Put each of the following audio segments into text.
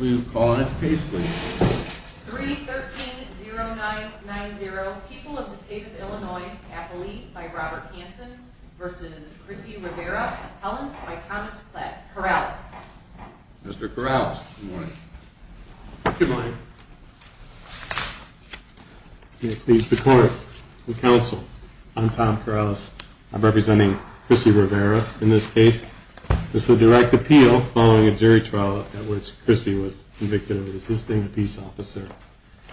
We will call on this case please. 313-0990, People of the State of Illinois, Affiliate by Robert Hanson v. Chrissy Rivera, Appellant by Thomas Corrales. Mr. Corrales, good morning. Good morning. It please the court and counsel, I'm Tom Corrales. I'm representing Chrissy Rivera in this case. This is a direct appeal following a jury trial in which Chrissy was convicted of assisting a peace officer.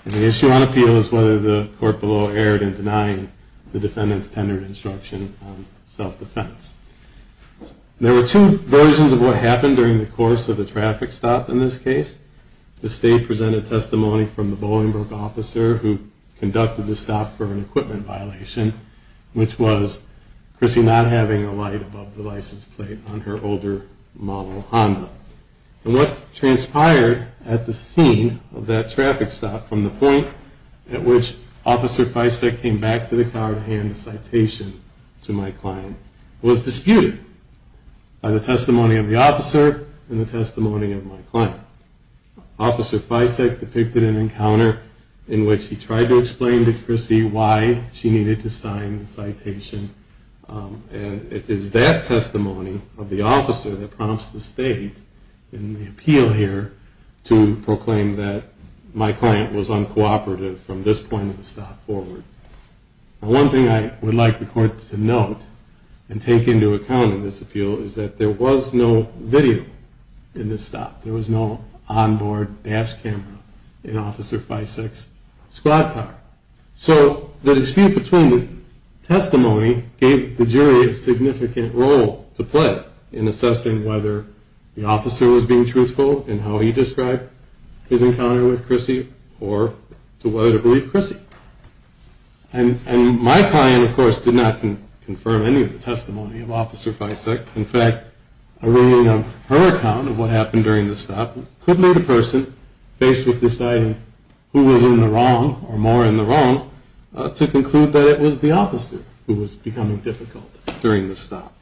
The issue on appeal is whether the court below erred in denying the defendant's tendered instruction on self-defense. There were two versions of what happened during the course of the traffic stop in this case. The state presented testimony from the Bolingbroke officer who conducted the stop for an equipment violation, which was Chrissy not having a light above the license plate on her older model Honda. And what transpired at the scene of that traffic stop from the point at which Officer Fisek came back to the court to hand a citation to my client was disputed by the testimony of the officer and the testimony of my client. Officer Fisek depicted an encounter in which he tried to explain to Chrissy why she needed to sign the citation and it is that testimony of the officer that prompts the state in the appeal here to proclaim that my client was uncooperative from this point of the stop forward. One thing I would like the court to note and take into account in this appeal is that there was no video in this stop. There was no onboard dash camera in Officer Fisek's squad car. So the dispute between the testimony gave the jury a significant role to play in assessing whether the officer was being truthful in how he described his encounter with Chrissy or to whether to believe Chrissy. And my client, of course, did not confirm any of the testimony of Officer Fisek. In fact, her account of what happened during the stop could lead a person faced with deciding who was in the wrong or more in the wrong to conclude that it was the officer who was becoming difficult during the stop.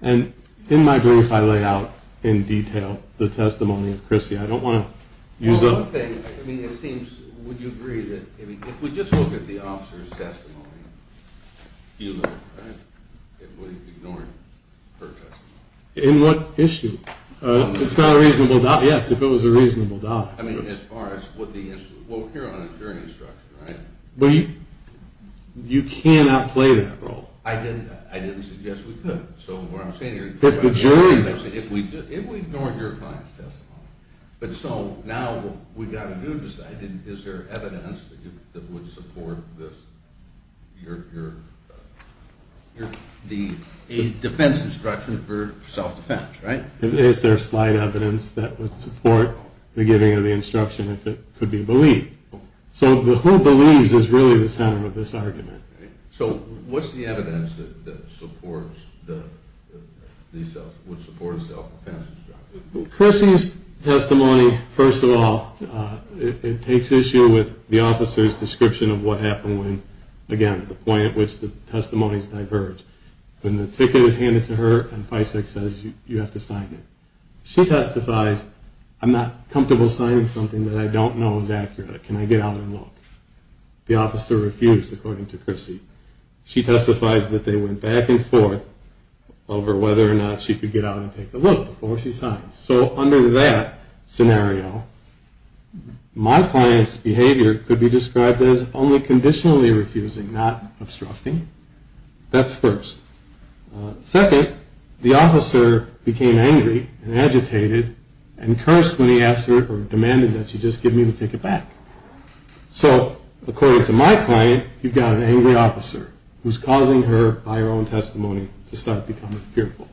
And in my brief I lay out in detail the testimony of Chrissy. Would you agree that if we just look at the officer's testimony, it would ignore her testimony? In what issue? It's not a reasonable doubt. Yes, if it was a reasonable doubt. I mean, as far as what the issue is. Well, we're here on a jury instruction, right? Well, you cannot play that role. I didn't suggest we could. It's the jury. If we ignore your client's testimony. But so now what we've got to do is decide is there evidence that would support the defense instruction for self-defense, right? Is there slight evidence that would support the giving of the instruction if it could be believed? So the who believes is really the center of this argument. So what's the evidence that supports the self-defense instruction? Chrissy's testimony, first of all, it takes issue with the officer's description of what happened when, again, the point at which the testimonies diverge. When the ticket is handed to her and FISAC says you have to sign it. She testifies, I'm not comfortable signing something that I don't know is accurate. Can I get out and look? The officer refused, according to Chrissy. She testifies that they went back and forth over whether or not she could get out and take a look before she signed. So under that scenario, my client's behavior could be described as only conditionally refusing, not obstructing. That's first. Second, the officer became angry and agitated and cursed when he asked her or demanded that she just give me the ticket back. So according to my client, you've got an angry officer who's causing her, by her own testimony, to start becoming fearful.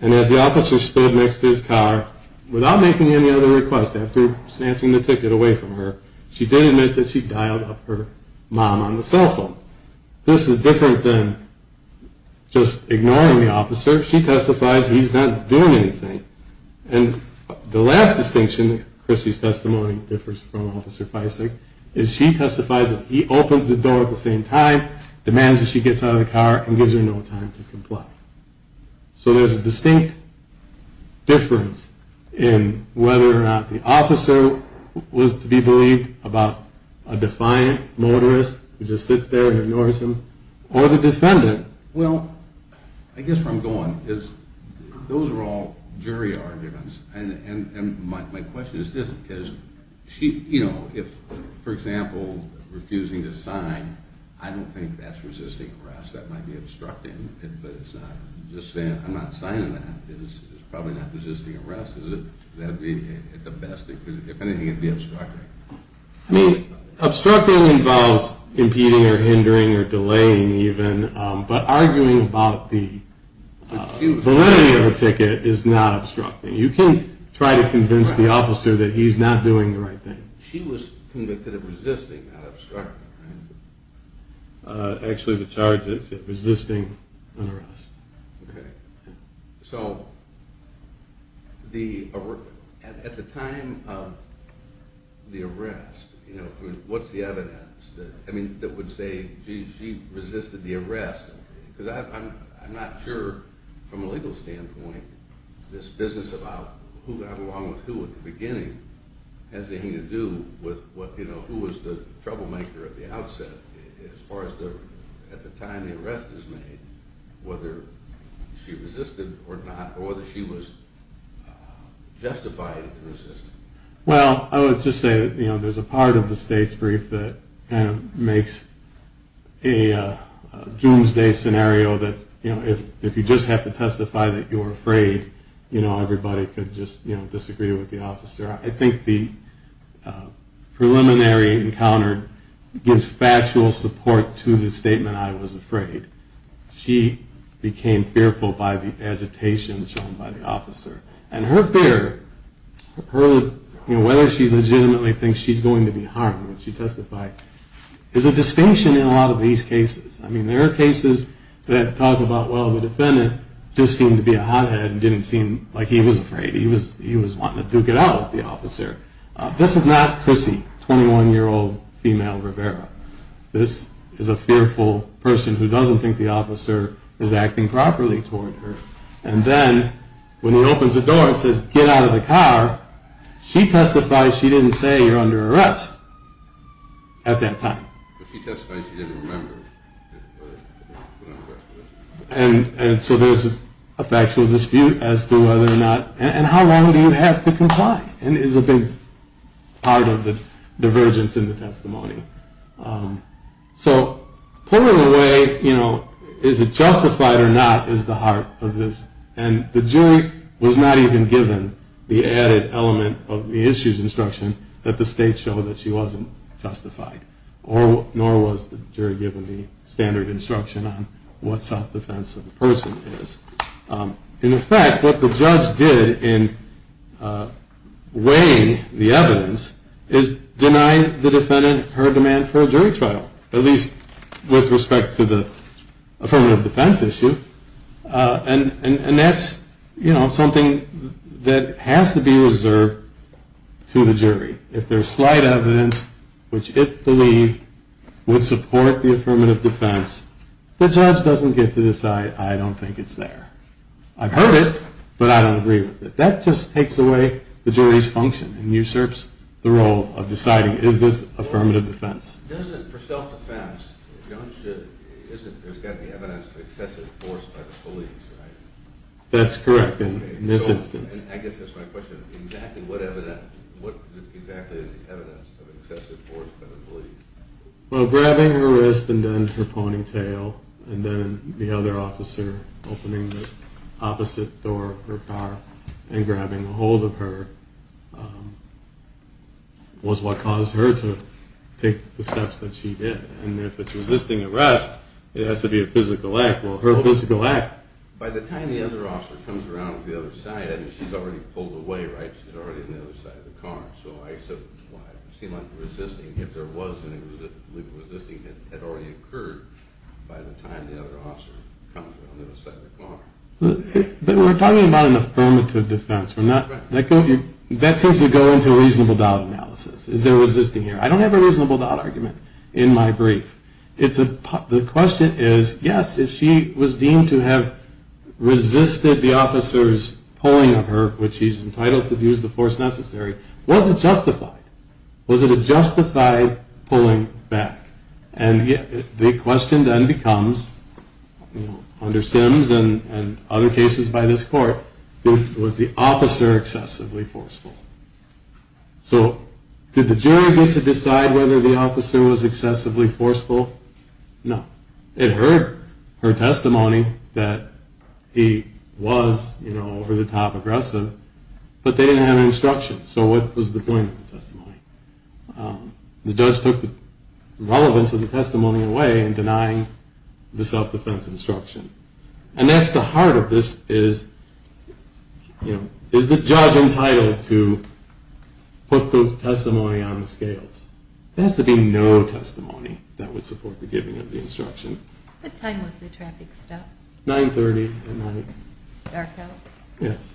And as the officer stood next to his car, without making any other requests after snatching the ticket away from her, she did admit that she dialed up her mom on the cell phone. This is different than just ignoring the officer. She testifies he's not doing anything. And the last distinction, Chrissy's testimony differs from Officer Fisac, is she testifies that he opens the door at the same time, demands that she gets out of the car, and gives her no time to comply. So there's a distinct difference in whether or not the officer was to be believed about a defiant motorist who just sits there and ignores him, or the defendant. Well, I guess where I'm going is those are all jury arguments. And my question is this, because, you know, if, for example, refusing to sign, I don't think that's resisting arrest. That might be obstructing, but I'm not signing that. It's probably not resisting arrest. Would that be at the best, if anything, it would be obstructing. I mean, obstructing involves impeding or hindering or delaying even, but arguing about the validity of a ticket is not obstructing. You can try to convince the officer that he's not doing the right thing. She was convicted of resisting, not obstructing, right? Actually, the charge is resisting an arrest. So, at the time of the arrest, what's the evidence that would say she resisted the arrest? Because I'm not sure, from a legal standpoint, this business about who got along with who at the beginning has anything to do with who was the troublemaker at the outset. As far as at the time the arrest is made, whether she resisted or not, or whether she was justified in resisting. Well, I would just say, you know, there's a part of the state's brief that kind of makes a doomsday scenario that, you know, if you just have to testify that you're afraid, you know, everybody could just, you know, disagree with the officer. I think the preliminary encounter gives factual support to the statement, I was afraid. She became fearful by the agitation shown by the officer. And her fear, you know, whether she legitimately thinks she's going to be harmed when she testified, is a distinction in a lot of these cases. I mean, there are cases that talk about, well, the defendant just seemed to be a hothead and didn't seem like he was afraid. He was wanting to duke it out with the officer. This is not Chrissy, 21-year-old female Rivera. This is a fearful person who doesn't think the officer is acting properly toward her. And then when he opens the door and says, get out of the car, she testifies she didn't say you're under arrest at that time. She testifies she didn't remember. And so there's a factual dispute as to whether or not, and how long do you have to comply? And is a big part of the divergence in the testimony. So pulling away, you know, is it justified or not, is the heart of this. And the jury was not even given the added element of the issues instruction that the state showed that she wasn't justified. Nor was the jury given the standard instruction on what self-defense of the person is. In effect, what the judge did in weighing the evidence is deny the defendant her demand for a jury trial. At least with respect to the affirmative defense issue. And that's, you know, something that has to be reserved to the jury. If there's slight evidence which it believed would support the affirmative defense, the judge doesn't get to decide I don't think it's there. I've heard it, but I don't agree with it. That just takes away the jury's function and usurps the role of deciding is this affirmative defense. For self-defense, there's got to be evidence of excessive force by the police, right? That's correct, in this instance. I guess that's my question, exactly what evidence, what exactly is the evidence of excessive force by the police? Well, grabbing her wrist and then her ponytail, and then the other officer opening the opposite door of her car and grabbing ahold of her was what caused her to take the steps that she did. And if it's resisting arrest, it has to be a physical act. Well, her physical act... By the time the other officer comes around on the other side, I mean, she's already pulled away, right? She's already on the other side of the car. So I said it seemed like resisting, if there was any resisting had already occurred by the time the other officer comes around on the other side of the car. But we're talking about an affirmative defense. That seems to go into a reasonable doubt analysis. Is there resisting here? I don't have a reasonable doubt argument in my brief. The question is, yes, if she was deemed to have resisted the officer's pulling of her, which he's entitled to use the force necessary, was it justified? Was it a justified pulling back? And the question then becomes, under Sims and other cases by this court, was the officer excessively forceful? So did the jury get to decide whether the officer was excessively forceful? No. It heard her testimony that he was over-the-top aggressive, but they didn't have an instruction. So what was the point of the testimony? The judge took the relevance of the testimony away in denying the self-defense instruction. And that's the heart of this is, you know, is the judge entitled to put the testimony on the scales? There has to be no testimony that would support the giving of the instruction. What time was the traffic stopped? 9.30 at night. Dark out? Yes.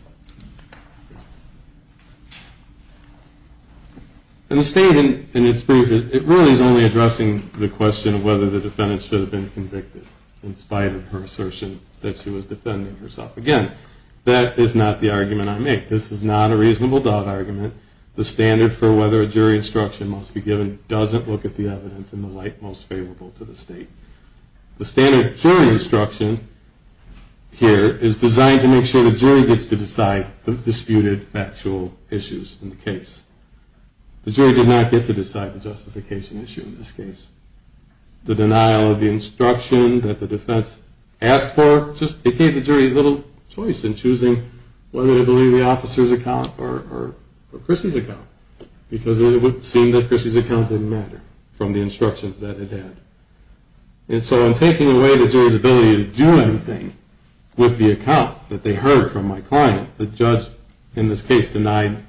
And the state, in its brief, it really is only addressing the question of whether the defendant should have been convicted, in spite of her assertion that she was defending herself. Again, that is not the argument I make. This is not a reasonable doubt argument. The standard for whether a jury instruction must be given doesn't look at the evidence in the light most favorable to the state. The standard jury instruction here is designed to make sure the jury gets to decide the disputed factual issues in the case. The jury did not get to decide the justification issue in this case. The denial of the instruction that the defense asked for just gave the jury little choice in choosing whether to believe the officer's account or Chrissy's account, because it would seem that Chrissy's account didn't matter from the instructions that it had. And so in taking away the jury's ability to do anything with the account that they heard from my client, the judge in this case denied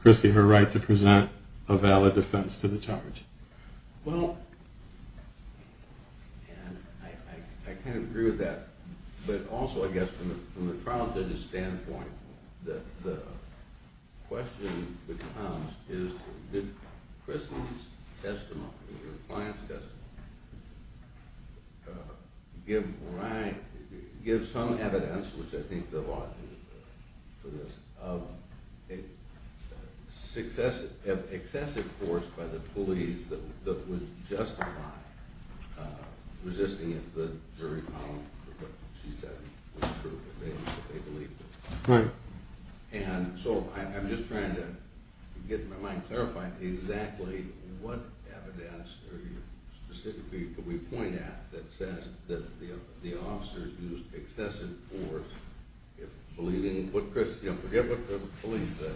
Chrissy her right to present a valid defense to the charge. ...of excessive force by the police that would justify resisting if the jury found what she said was true and they believed it. Right. And so I'm just trying to get my mind clarified exactly what evidence specifically could we point at that says that the officers used excessive force if believing what the police said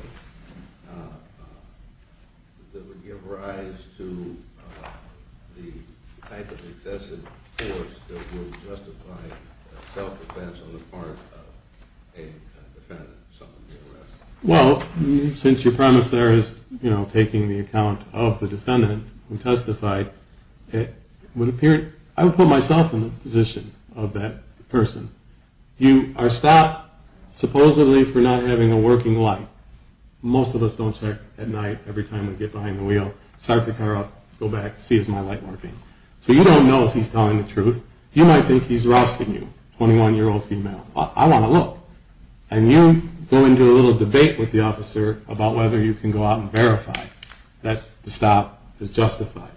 that would give rise to the type of excessive force that would justify self-defense on the part of a defendant. Well, since your premise there is taking the account of the defendant who testified, I would put myself in the position of that person. You are stopped supposedly for not having a working light. Most of us don't check at night every time we get behind the wheel, start the car up, go back, see is my light working. So you don't know if he's telling the truth. You might think he's rousting you, 21-year-old female. I want to look. And you go into a little debate with the officer about whether you can go out and verify that the stop is justified.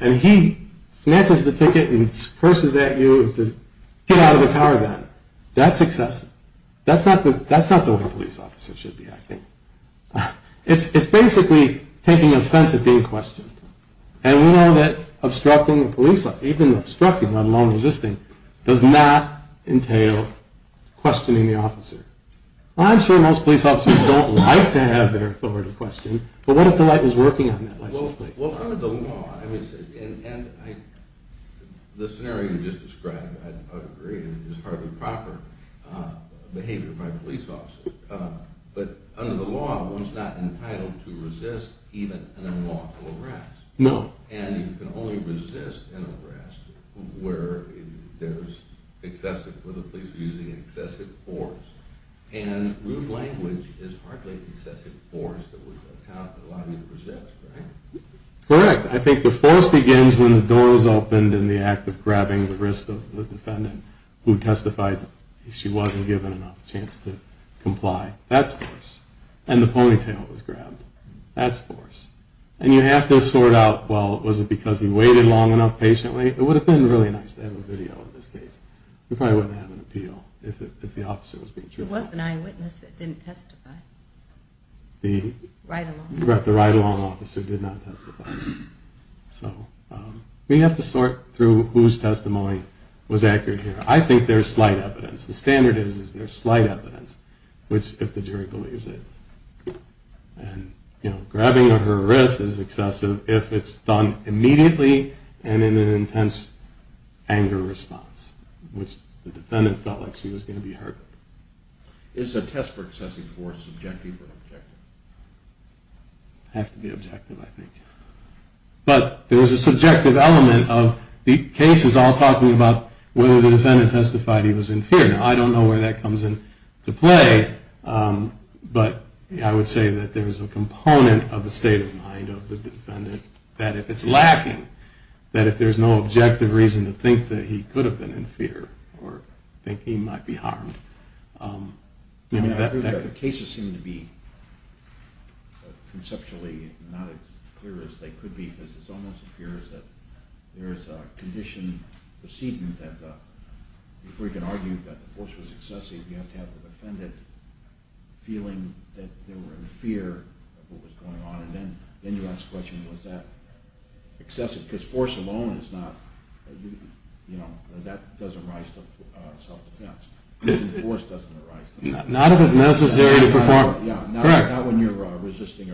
And he snatches the ticket and curses at you and says, get out of the car then. That's excessive. That's not the way a police officer should be acting. It's basically taking offense at being questioned. And we know that even obstructing, let alone resisting, does not entail questioning the officer. Well, I'm sure most police officers don't like to have their authority questioned. But what if the light was working on that license plate? Well, under the law, and the scenario you just described, I would agree, is hardly proper behavior by police officers. But under the law, one's not entitled to resist even an unlawful arrest. No. And you can only resist an arrest where there's excessive, where the police are using excessive force. And rude language is hardly excessive force that would allow you to resist, right? Correct. I think the force begins when the door is opened in the act of grabbing the wrist of the defendant who testified and she wasn't given enough chance to comply. That's force. And the ponytail was grabbed. That's force. And you have to sort out, well, was it because he waited long enough patiently? It would have been really nice to have a video of this case. We probably wouldn't have an appeal if the officer was being truthful. It was an eyewitness that didn't testify. The ride-along officer did not testify. So we have to sort through whose testimony was accurate here. I think there's slight evidence. The standard is there's slight evidence if the jury believes it. And, you know, grabbing of her wrist is excessive if it's done immediately and in an intense anger response, which the defendant felt like she was going to be hurt. Is a test for excessive force subjective or objective? It has to be objective, I think. But there was a subjective element of the cases all talking about whether the defendant testified he was in fear. Now, I don't know where that comes into play, but I would say that there's a component of the state of mind of the defendant that if it's lacking, that if there's no objective reason to think that he could have been in fear or think he might be harmed. The cases seem to be conceptually not as clear as they could be because it almost appears that there's a condition proceeding that, if we can argue that the force was excessive, you have to have the defendant feeling that they were in fear of what was going on. And then you ask the question, was that excessive? Because force alone is not, you know, that doesn't rise to self-defense. Force doesn't arise to self-defense. Not if it's necessary to perform. Correct. Not when you're resisting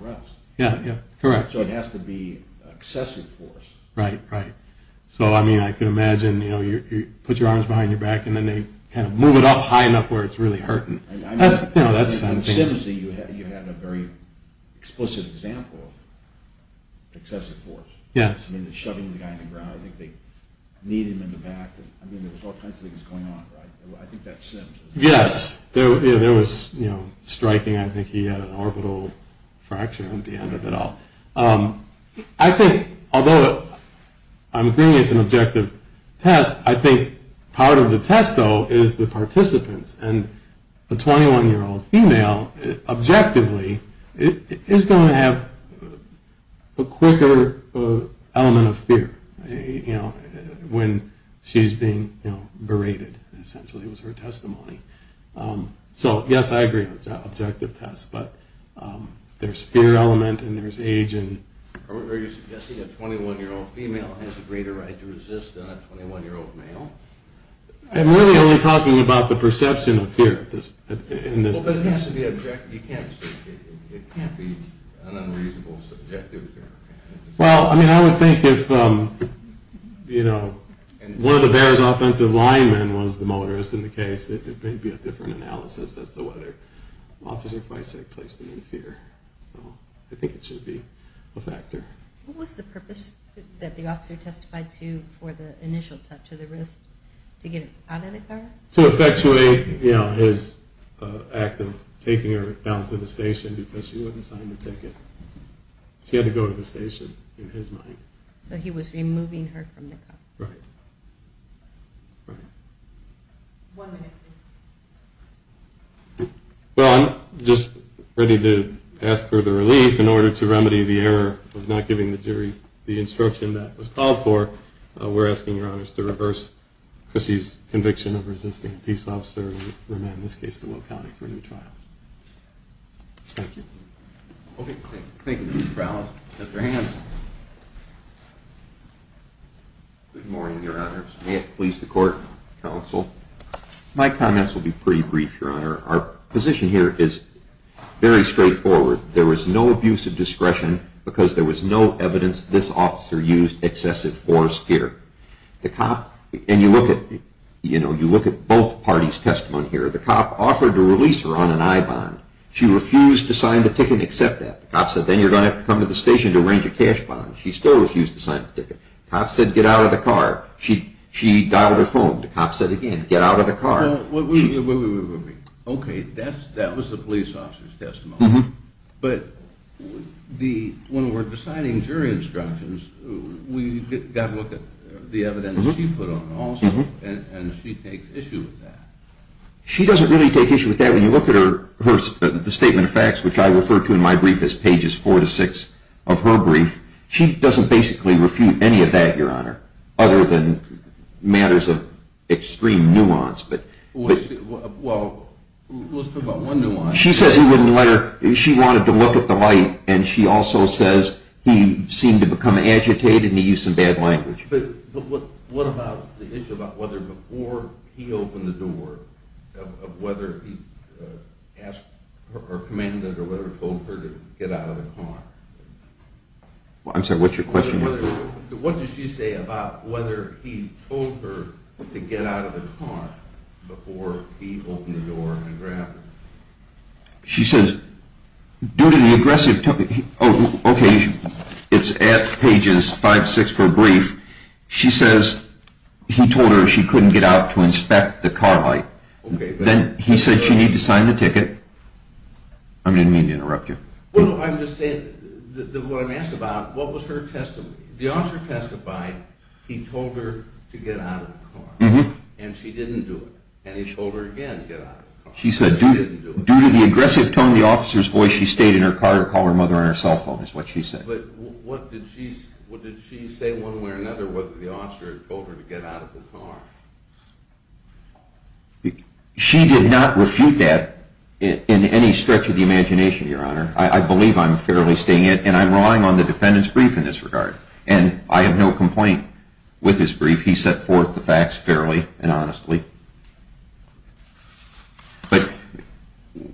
arrest. Yeah, yeah, correct. So it has to be excessive force. Right, right. So, I mean, I can imagine, you know, you put your arms behind your back and then they kind of move it up high enough where it's really hurting. That's, you know, that's something. I mean, in Simms, you had a very explicit example of excessive force. Yes. I mean, shoving the guy in the ground. I think they kneed him in the back. I mean, there was all kinds of things going on, right? I think that's Simms. Yes. There was, you know, striking. I think he had an orbital fracture at the end of it all. I think, although I'm agreeing it's an objective test, I think part of the test, though, is the participants. And a 21-year-old female, objectively, is going to have a quicker element of fear, you know, when she's being, you know, berated, essentially, was her testimony. So, yes, I agree it's an objective test. But there's fear element and there's age. Are you suggesting a 21-year-old female has a greater right to resist than a 21-year-old male? I'm really only talking about the perception of fear in this discussion. But it has to be objective. It can't be an unreasonable subjective fear. Well, I mean, I would think if, you know, one of the Bears' offensive linemen was the motorist in the case, that there may be a different analysis as to whether Officer Feisig placed him in fear. So I think it should be a factor. What was the purpose that the officer testified to for the initial touch of the wrist? To get it out of the car? To effectuate, you know, his act of taking her down to the station because she wouldn't sign the ticket. She had to go to the station, in his mind. So he was removing her from the car. Right. Right. One minute, please. Well, I'm just ready to ask for the relief in order to remedy the error of not giving the jury the instruction that was called for. We're asking your honors to reverse Chrissy's conviction of resisting a peace officer, and remand in this case to Will County for a new trial. Thank you. Thank you, Mr. Brown. Mr. Hanson. Good morning, your honors. May it please the court, counsel. My comments will be pretty brief, your honor. Our position here is very straightforward. There was no abuse of discretion because there was no evidence this officer used excessive force here. The cop, and you look at, you know, you look at both parties' testimony here. The cop offered to release her on an I-bond. She refused to sign the ticket and accept that. The cop said, then you're going to have to come to the station to arrange a cash bond. She still refused to sign the ticket. The cop said, get out of the car. She dialed her phone. The cop said again, get out of the car. Wait, wait, wait. Okay, that was the police officer's testimony. But when we're deciding jury instructions, we've got to look at the evidence she put on also, and she takes issue with that. She doesn't really take issue with that. When you look at her statement of facts, which I refer to in my brief as pages four to six of her brief, she doesn't basically refute any of that, your honor, other than matters of extreme nuance. Well, let's talk about one nuance. She says he wouldn't let her. She wanted to look at the light, and she also says he seemed to become agitated and he used some bad language. But what about the issue about whether before he opened the door, whether he asked her or commanded her or whatever, told her to get out of the car? I'm sorry, what's your question? What does she say about whether he told her to get out of the car before he opened the door and grabbed her? She says, due to the aggressive, okay, it's at pages five, six of her brief, she says he told her she couldn't get out to inspect the car light. Then he said she needed to sign the ticket. I didn't mean to interrupt you. Well, I'm just saying, what I'm asking about, what was her testimony? The officer testified he told her to get out of the car, and she didn't do it, and he told her again to get out of the car. She said due to the aggressive tone of the officer's voice, she stayed in her car or called her mother on her cell phone is what she said. But what did she say one way or another, whether the officer had told her to get out of the car? She did not refute that in any stretch of the imagination, Your Honor. I believe I'm fairly staying in, and I'm relying on the defendant's brief in this regard, and I have no complaint with his brief. He set forth the facts fairly and honestly. But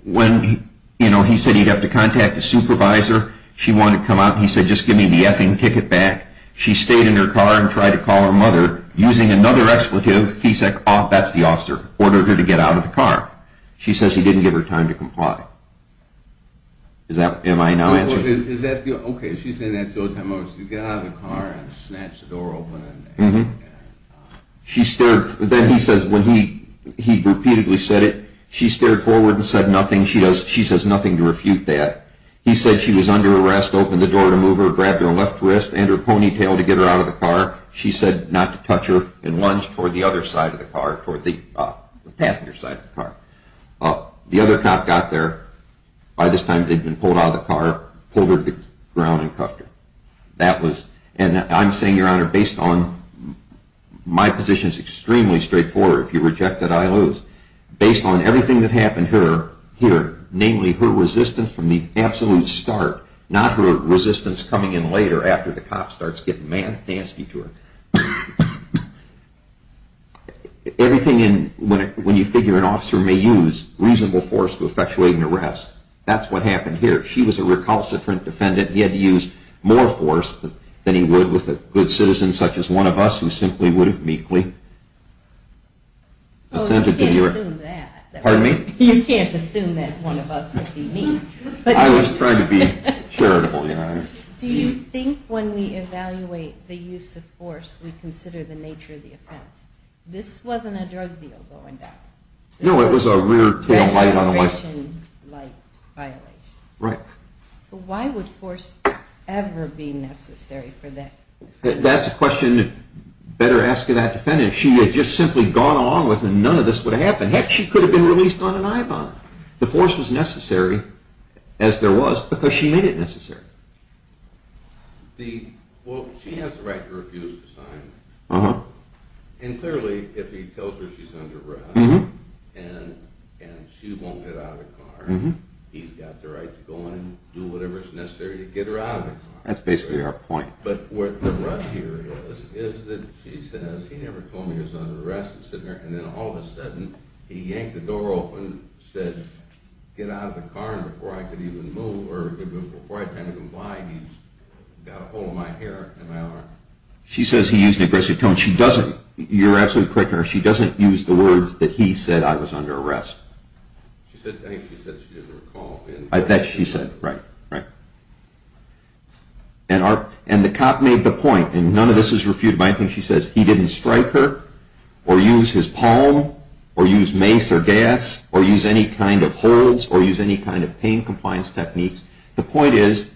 when, you know, he said he'd have to contact a supervisor, she wanted to come out, and he said just give me the effing ticket back. She stayed in her car and tried to call her mother. Using another expletive, he said, oh, that's the officer, ordered her to get out of the car. She says he didn't give her time to comply. Am I now answering? Okay, she's saying that two or three times. She got out of the car and snatched the door open. Then he says when he repeatedly said it, she stared forward and said nothing. She says nothing to refute that. He said she was under arrest, opened the door to move her, grabbed her left wrist and her ponytail to get her out of the car. She said not to touch her and lunged toward the other side of the car, toward the passenger side of the car. The other cop got there. By this time, they'd been pulled out of the car, pulled her to the ground and cuffed her. That was, and I'm saying, Your Honor, based on, my position is extremely straightforward. If you reject it, I lose. Based on everything that happened here, namely her resistance from the absolute start, not her resistance coming in later after the cop starts getting nasty to her. Everything in, when you figure an officer may use reasonable force to effectuate an arrest, that's what happened here. She was a recalcitrant defendant. He had to use more force than he would with a good citizen such as one of us who simply would have meekly assented to the arrest. Oh, you can't assume that. Pardon me? You can't assume that one of us would be meek. I was trying to be charitable, Your Honor. Do you think when we evaluate the use of force, we consider the nature of the offense? This wasn't a drug deal going down. No, it was a rear tail light on a license. It was a registration light violation. Right. So why would force ever be necessary for that? That's a question you better ask of that defendant. If she had just simply gone along with it, none of this would have happened. Heck, she could have been released on an I-bond. The force was necessary, as there was, because she made it necessary. Well, she has the right to refuse to sign. And clearly, if he tells her she's under arrest and she won't get out of the car, he's got the right to go in and do whatever is necessary to get her out of the car. That's basically our point. But what the rush here is, is that she says, he never told me he was under arrest. And then all of a sudden, he yanked the door open and said, get out of the car before I can even move, or before I can even fly. He's got a hole in my hair and my arm. She says he used an aggressive tone. You're absolutely correct, Your Honor. She doesn't use the words that he said, I was under arrest. I think she said she didn't recall. She said, right, right. And the cop made the point, and none of this is refuted by anything she says. He didn't strike her or use his palm or use mace or gas or use any kind of holds or use any kind of pain compliance techniques. The point is,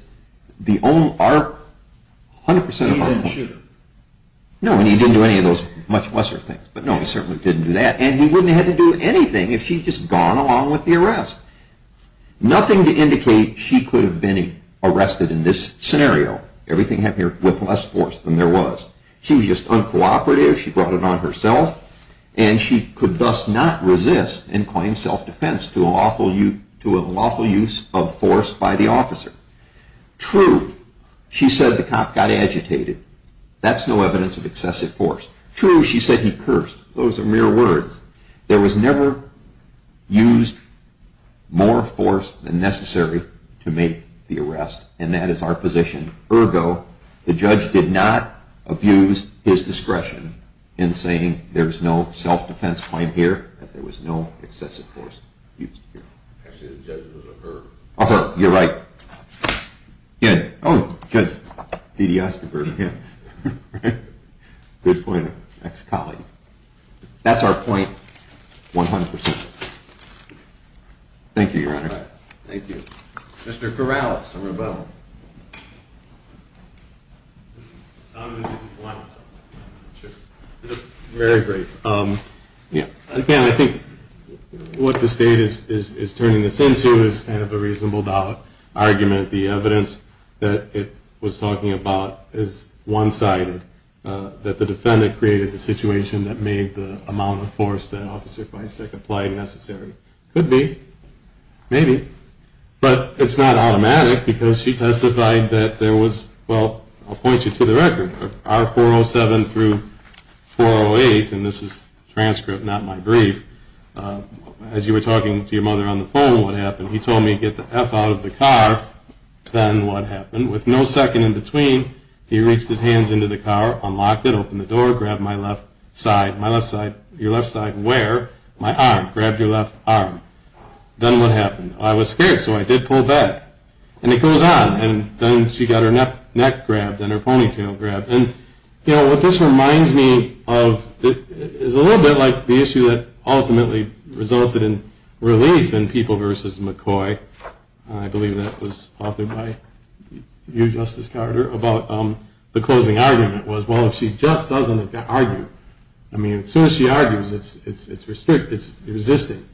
the only, our, 100% of our point. He didn't shoot her. No, and he didn't do any of those much lesser things. But no, he certainly didn't do that. And he wouldn't have had to do anything if she had just gone along with the arrest. Nothing to indicate she could have been arrested in this scenario. Everything happened here with less force than there was. She was just uncooperative. She brought it on herself. And she could thus not resist and claim self-defense to a lawful use of force by the officer. True, she said the cop got agitated. That's no evidence of excessive force. True, she said he cursed. Those are mere words. There was never used more force than necessary to make the arrest. And that is our position. Ergo, the judge did not abuse his discretion in saying there's no self-defense claim here, because there was no excessive force used here. Actually, the judge was a her. A her, you're right. Good. Oh, Judge Didi-Eisenberg, yeah. Good point, ex-colleague. That's our point 100%. Thank you, Your Honor. Thank you. Mr. Corrales, the rebuttal. Very great. Again, I think what the State is turning this into is kind of a reasonable-doubt argument. The evidence that it was talking about is one-sided, that the defendant created the situation that made the amount of force that Officer Feistak applied necessary. Could be. Maybe. But it's not automatic, because she testified that there was, well, I'll point you to the record, R407 through 408, and this is transcript, not my brief. He told me to get the F out of the car. Then what happened? With no second in between, he reached his hands into the car, unlocked it, opened the door, grabbed my left side, my left side, your left side where? My arm. Grabbed your left arm. Then what happened? I was scared, so I did pull back. And it goes on. And then she got her neck grabbed and her ponytail grabbed. And, you know, what this reminds me of is a little bit like the issue that ultimately resulted in relief in People v. McCoy. I believe that was authored by you, Justice Carter, about the closing argument was, well, if she just doesn't argue, I mean, as soon as she argues, it's resisting.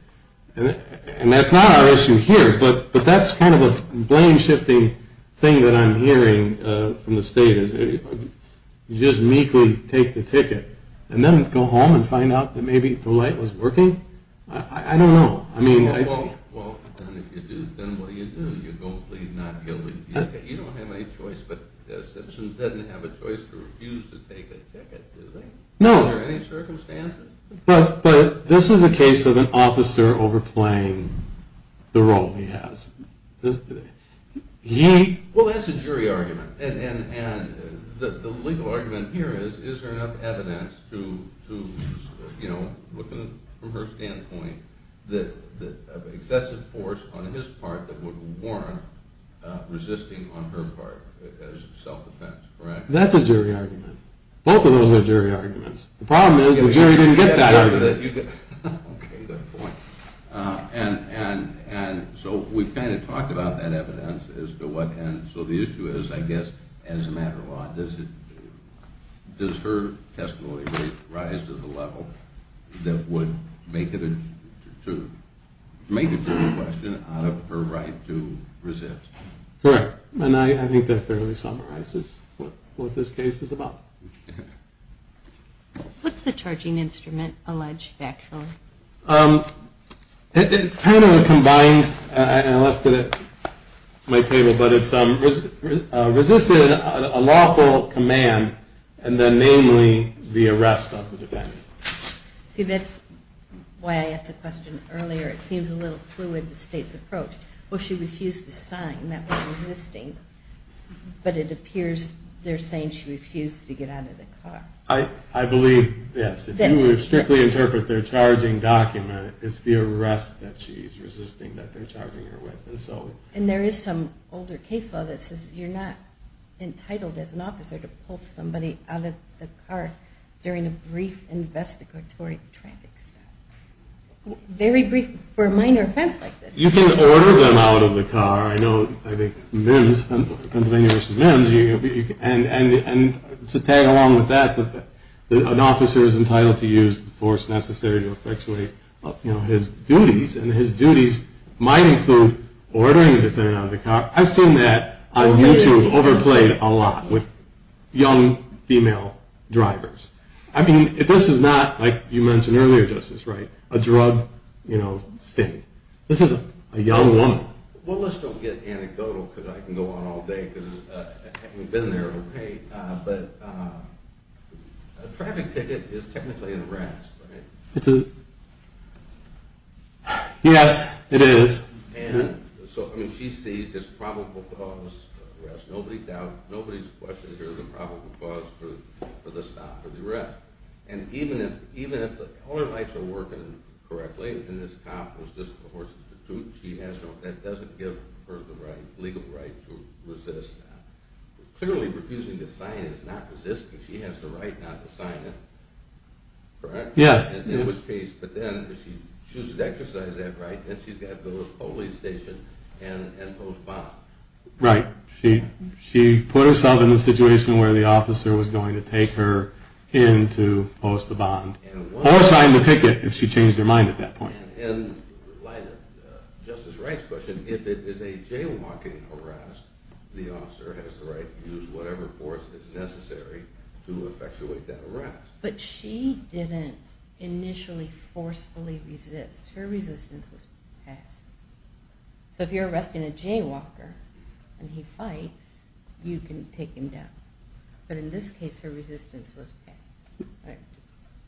And that's not our issue here, but that's kind of a blame-shifting thing that I'm hearing from the state, is you just meekly take the ticket and then go home and find out that maybe the light was working. I don't know. Well, if you do, then what do you do? You go plead not guilty. You don't have any choice, but Simpson doesn't have a choice to refuse to take a ticket, does he? No. Under any circumstances? But this is a case of an officer overplaying the role he has. Well, that's a jury argument. And the legal argument here is, is there enough evidence to, you know, looking from her standpoint, that excessive force on his part that would warrant resisting on her part as self-defense, correct? That's a jury argument. Both of those are jury arguments. The problem is the jury didn't get that argument. Okay, good point. And so we've kind of talked about that evidence, and so the issue is, I guess, as a matter of law, does her testimony rise to the level that would make a jury question out of her right to resist? Correct. And I think that fairly summarizes what this case is about. What's the charging instrument, alleged factually? It's kind of a combined, and I left it at my table, but it's resisted a lawful command, and then namely the arrest of the defendant. See, that's why I asked the question earlier. It seems a little fluid, the state's approach. Well, she refused to sign. That was resisting. But it appears they're saying she refused to get out of the car. I believe, yes, if you would strictly interpret their charging document, it's the arrest that she's resisting that they're charging her with. And there is some older case law that says you're not entitled as an officer to pull somebody out of the car during a brief investigatory traffic stop. Very brief for a minor offense like this. You can order them out of the car. I know Pennsylvania v. Mims, and to tag along with that, an officer is entitled to use the force necessary to effectuate his duties, and his duties might include ordering the defendant out of the car. I've seen that on YouTube overplayed a lot with young female drivers. I mean, this is not, like you mentioned earlier, Justice, right, a drug sting. This is a young woman. Well, let's don't get anecdotal because I can go on all day because we've been there, okay? But a traffic ticket is technically an arrest, right? It's a... Yes, it is. And so, I mean, she sees this probable cause of arrest. Nobody's questioning here the probable cause for the stop, for the arrest. And even if the color lights are working correctly and this cop was just forced to shoot, that doesn't give her the legal right to resist. Clearly, refusing to sign is not resisting. She has the right not to sign it, correct? Yes. In which case, but then if she chooses to exercise that right, then she's got to go to the police station and post-bomb. Right. She put herself in the situation where the officer was going to take her in to post the bond. Or sign the ticket if she changed her mind at that point. In light of Justice Wright's question, if it is a jaywalking harass, the officer has the right to use whatever force is necessary to effectuate that harass. But she didn't initially forcefully resist. Her resistance was passed. So if you're arresting a jaywalker and he fights, you can take him down. But in this case, her resistance was passed.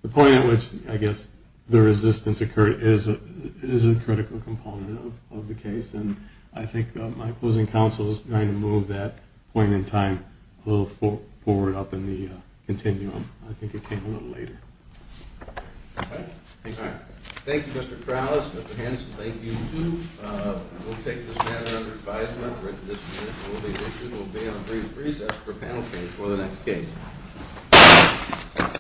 The point at which, I guess, the resistance occurred is a critical component of the case. And I think my opposing counsel is going to move that point in time a little forward up in the continuum. I think it came a little later. Okay. Thank you. We'll take this matter under advisement. We'll be on brief recess for panel case for the next case.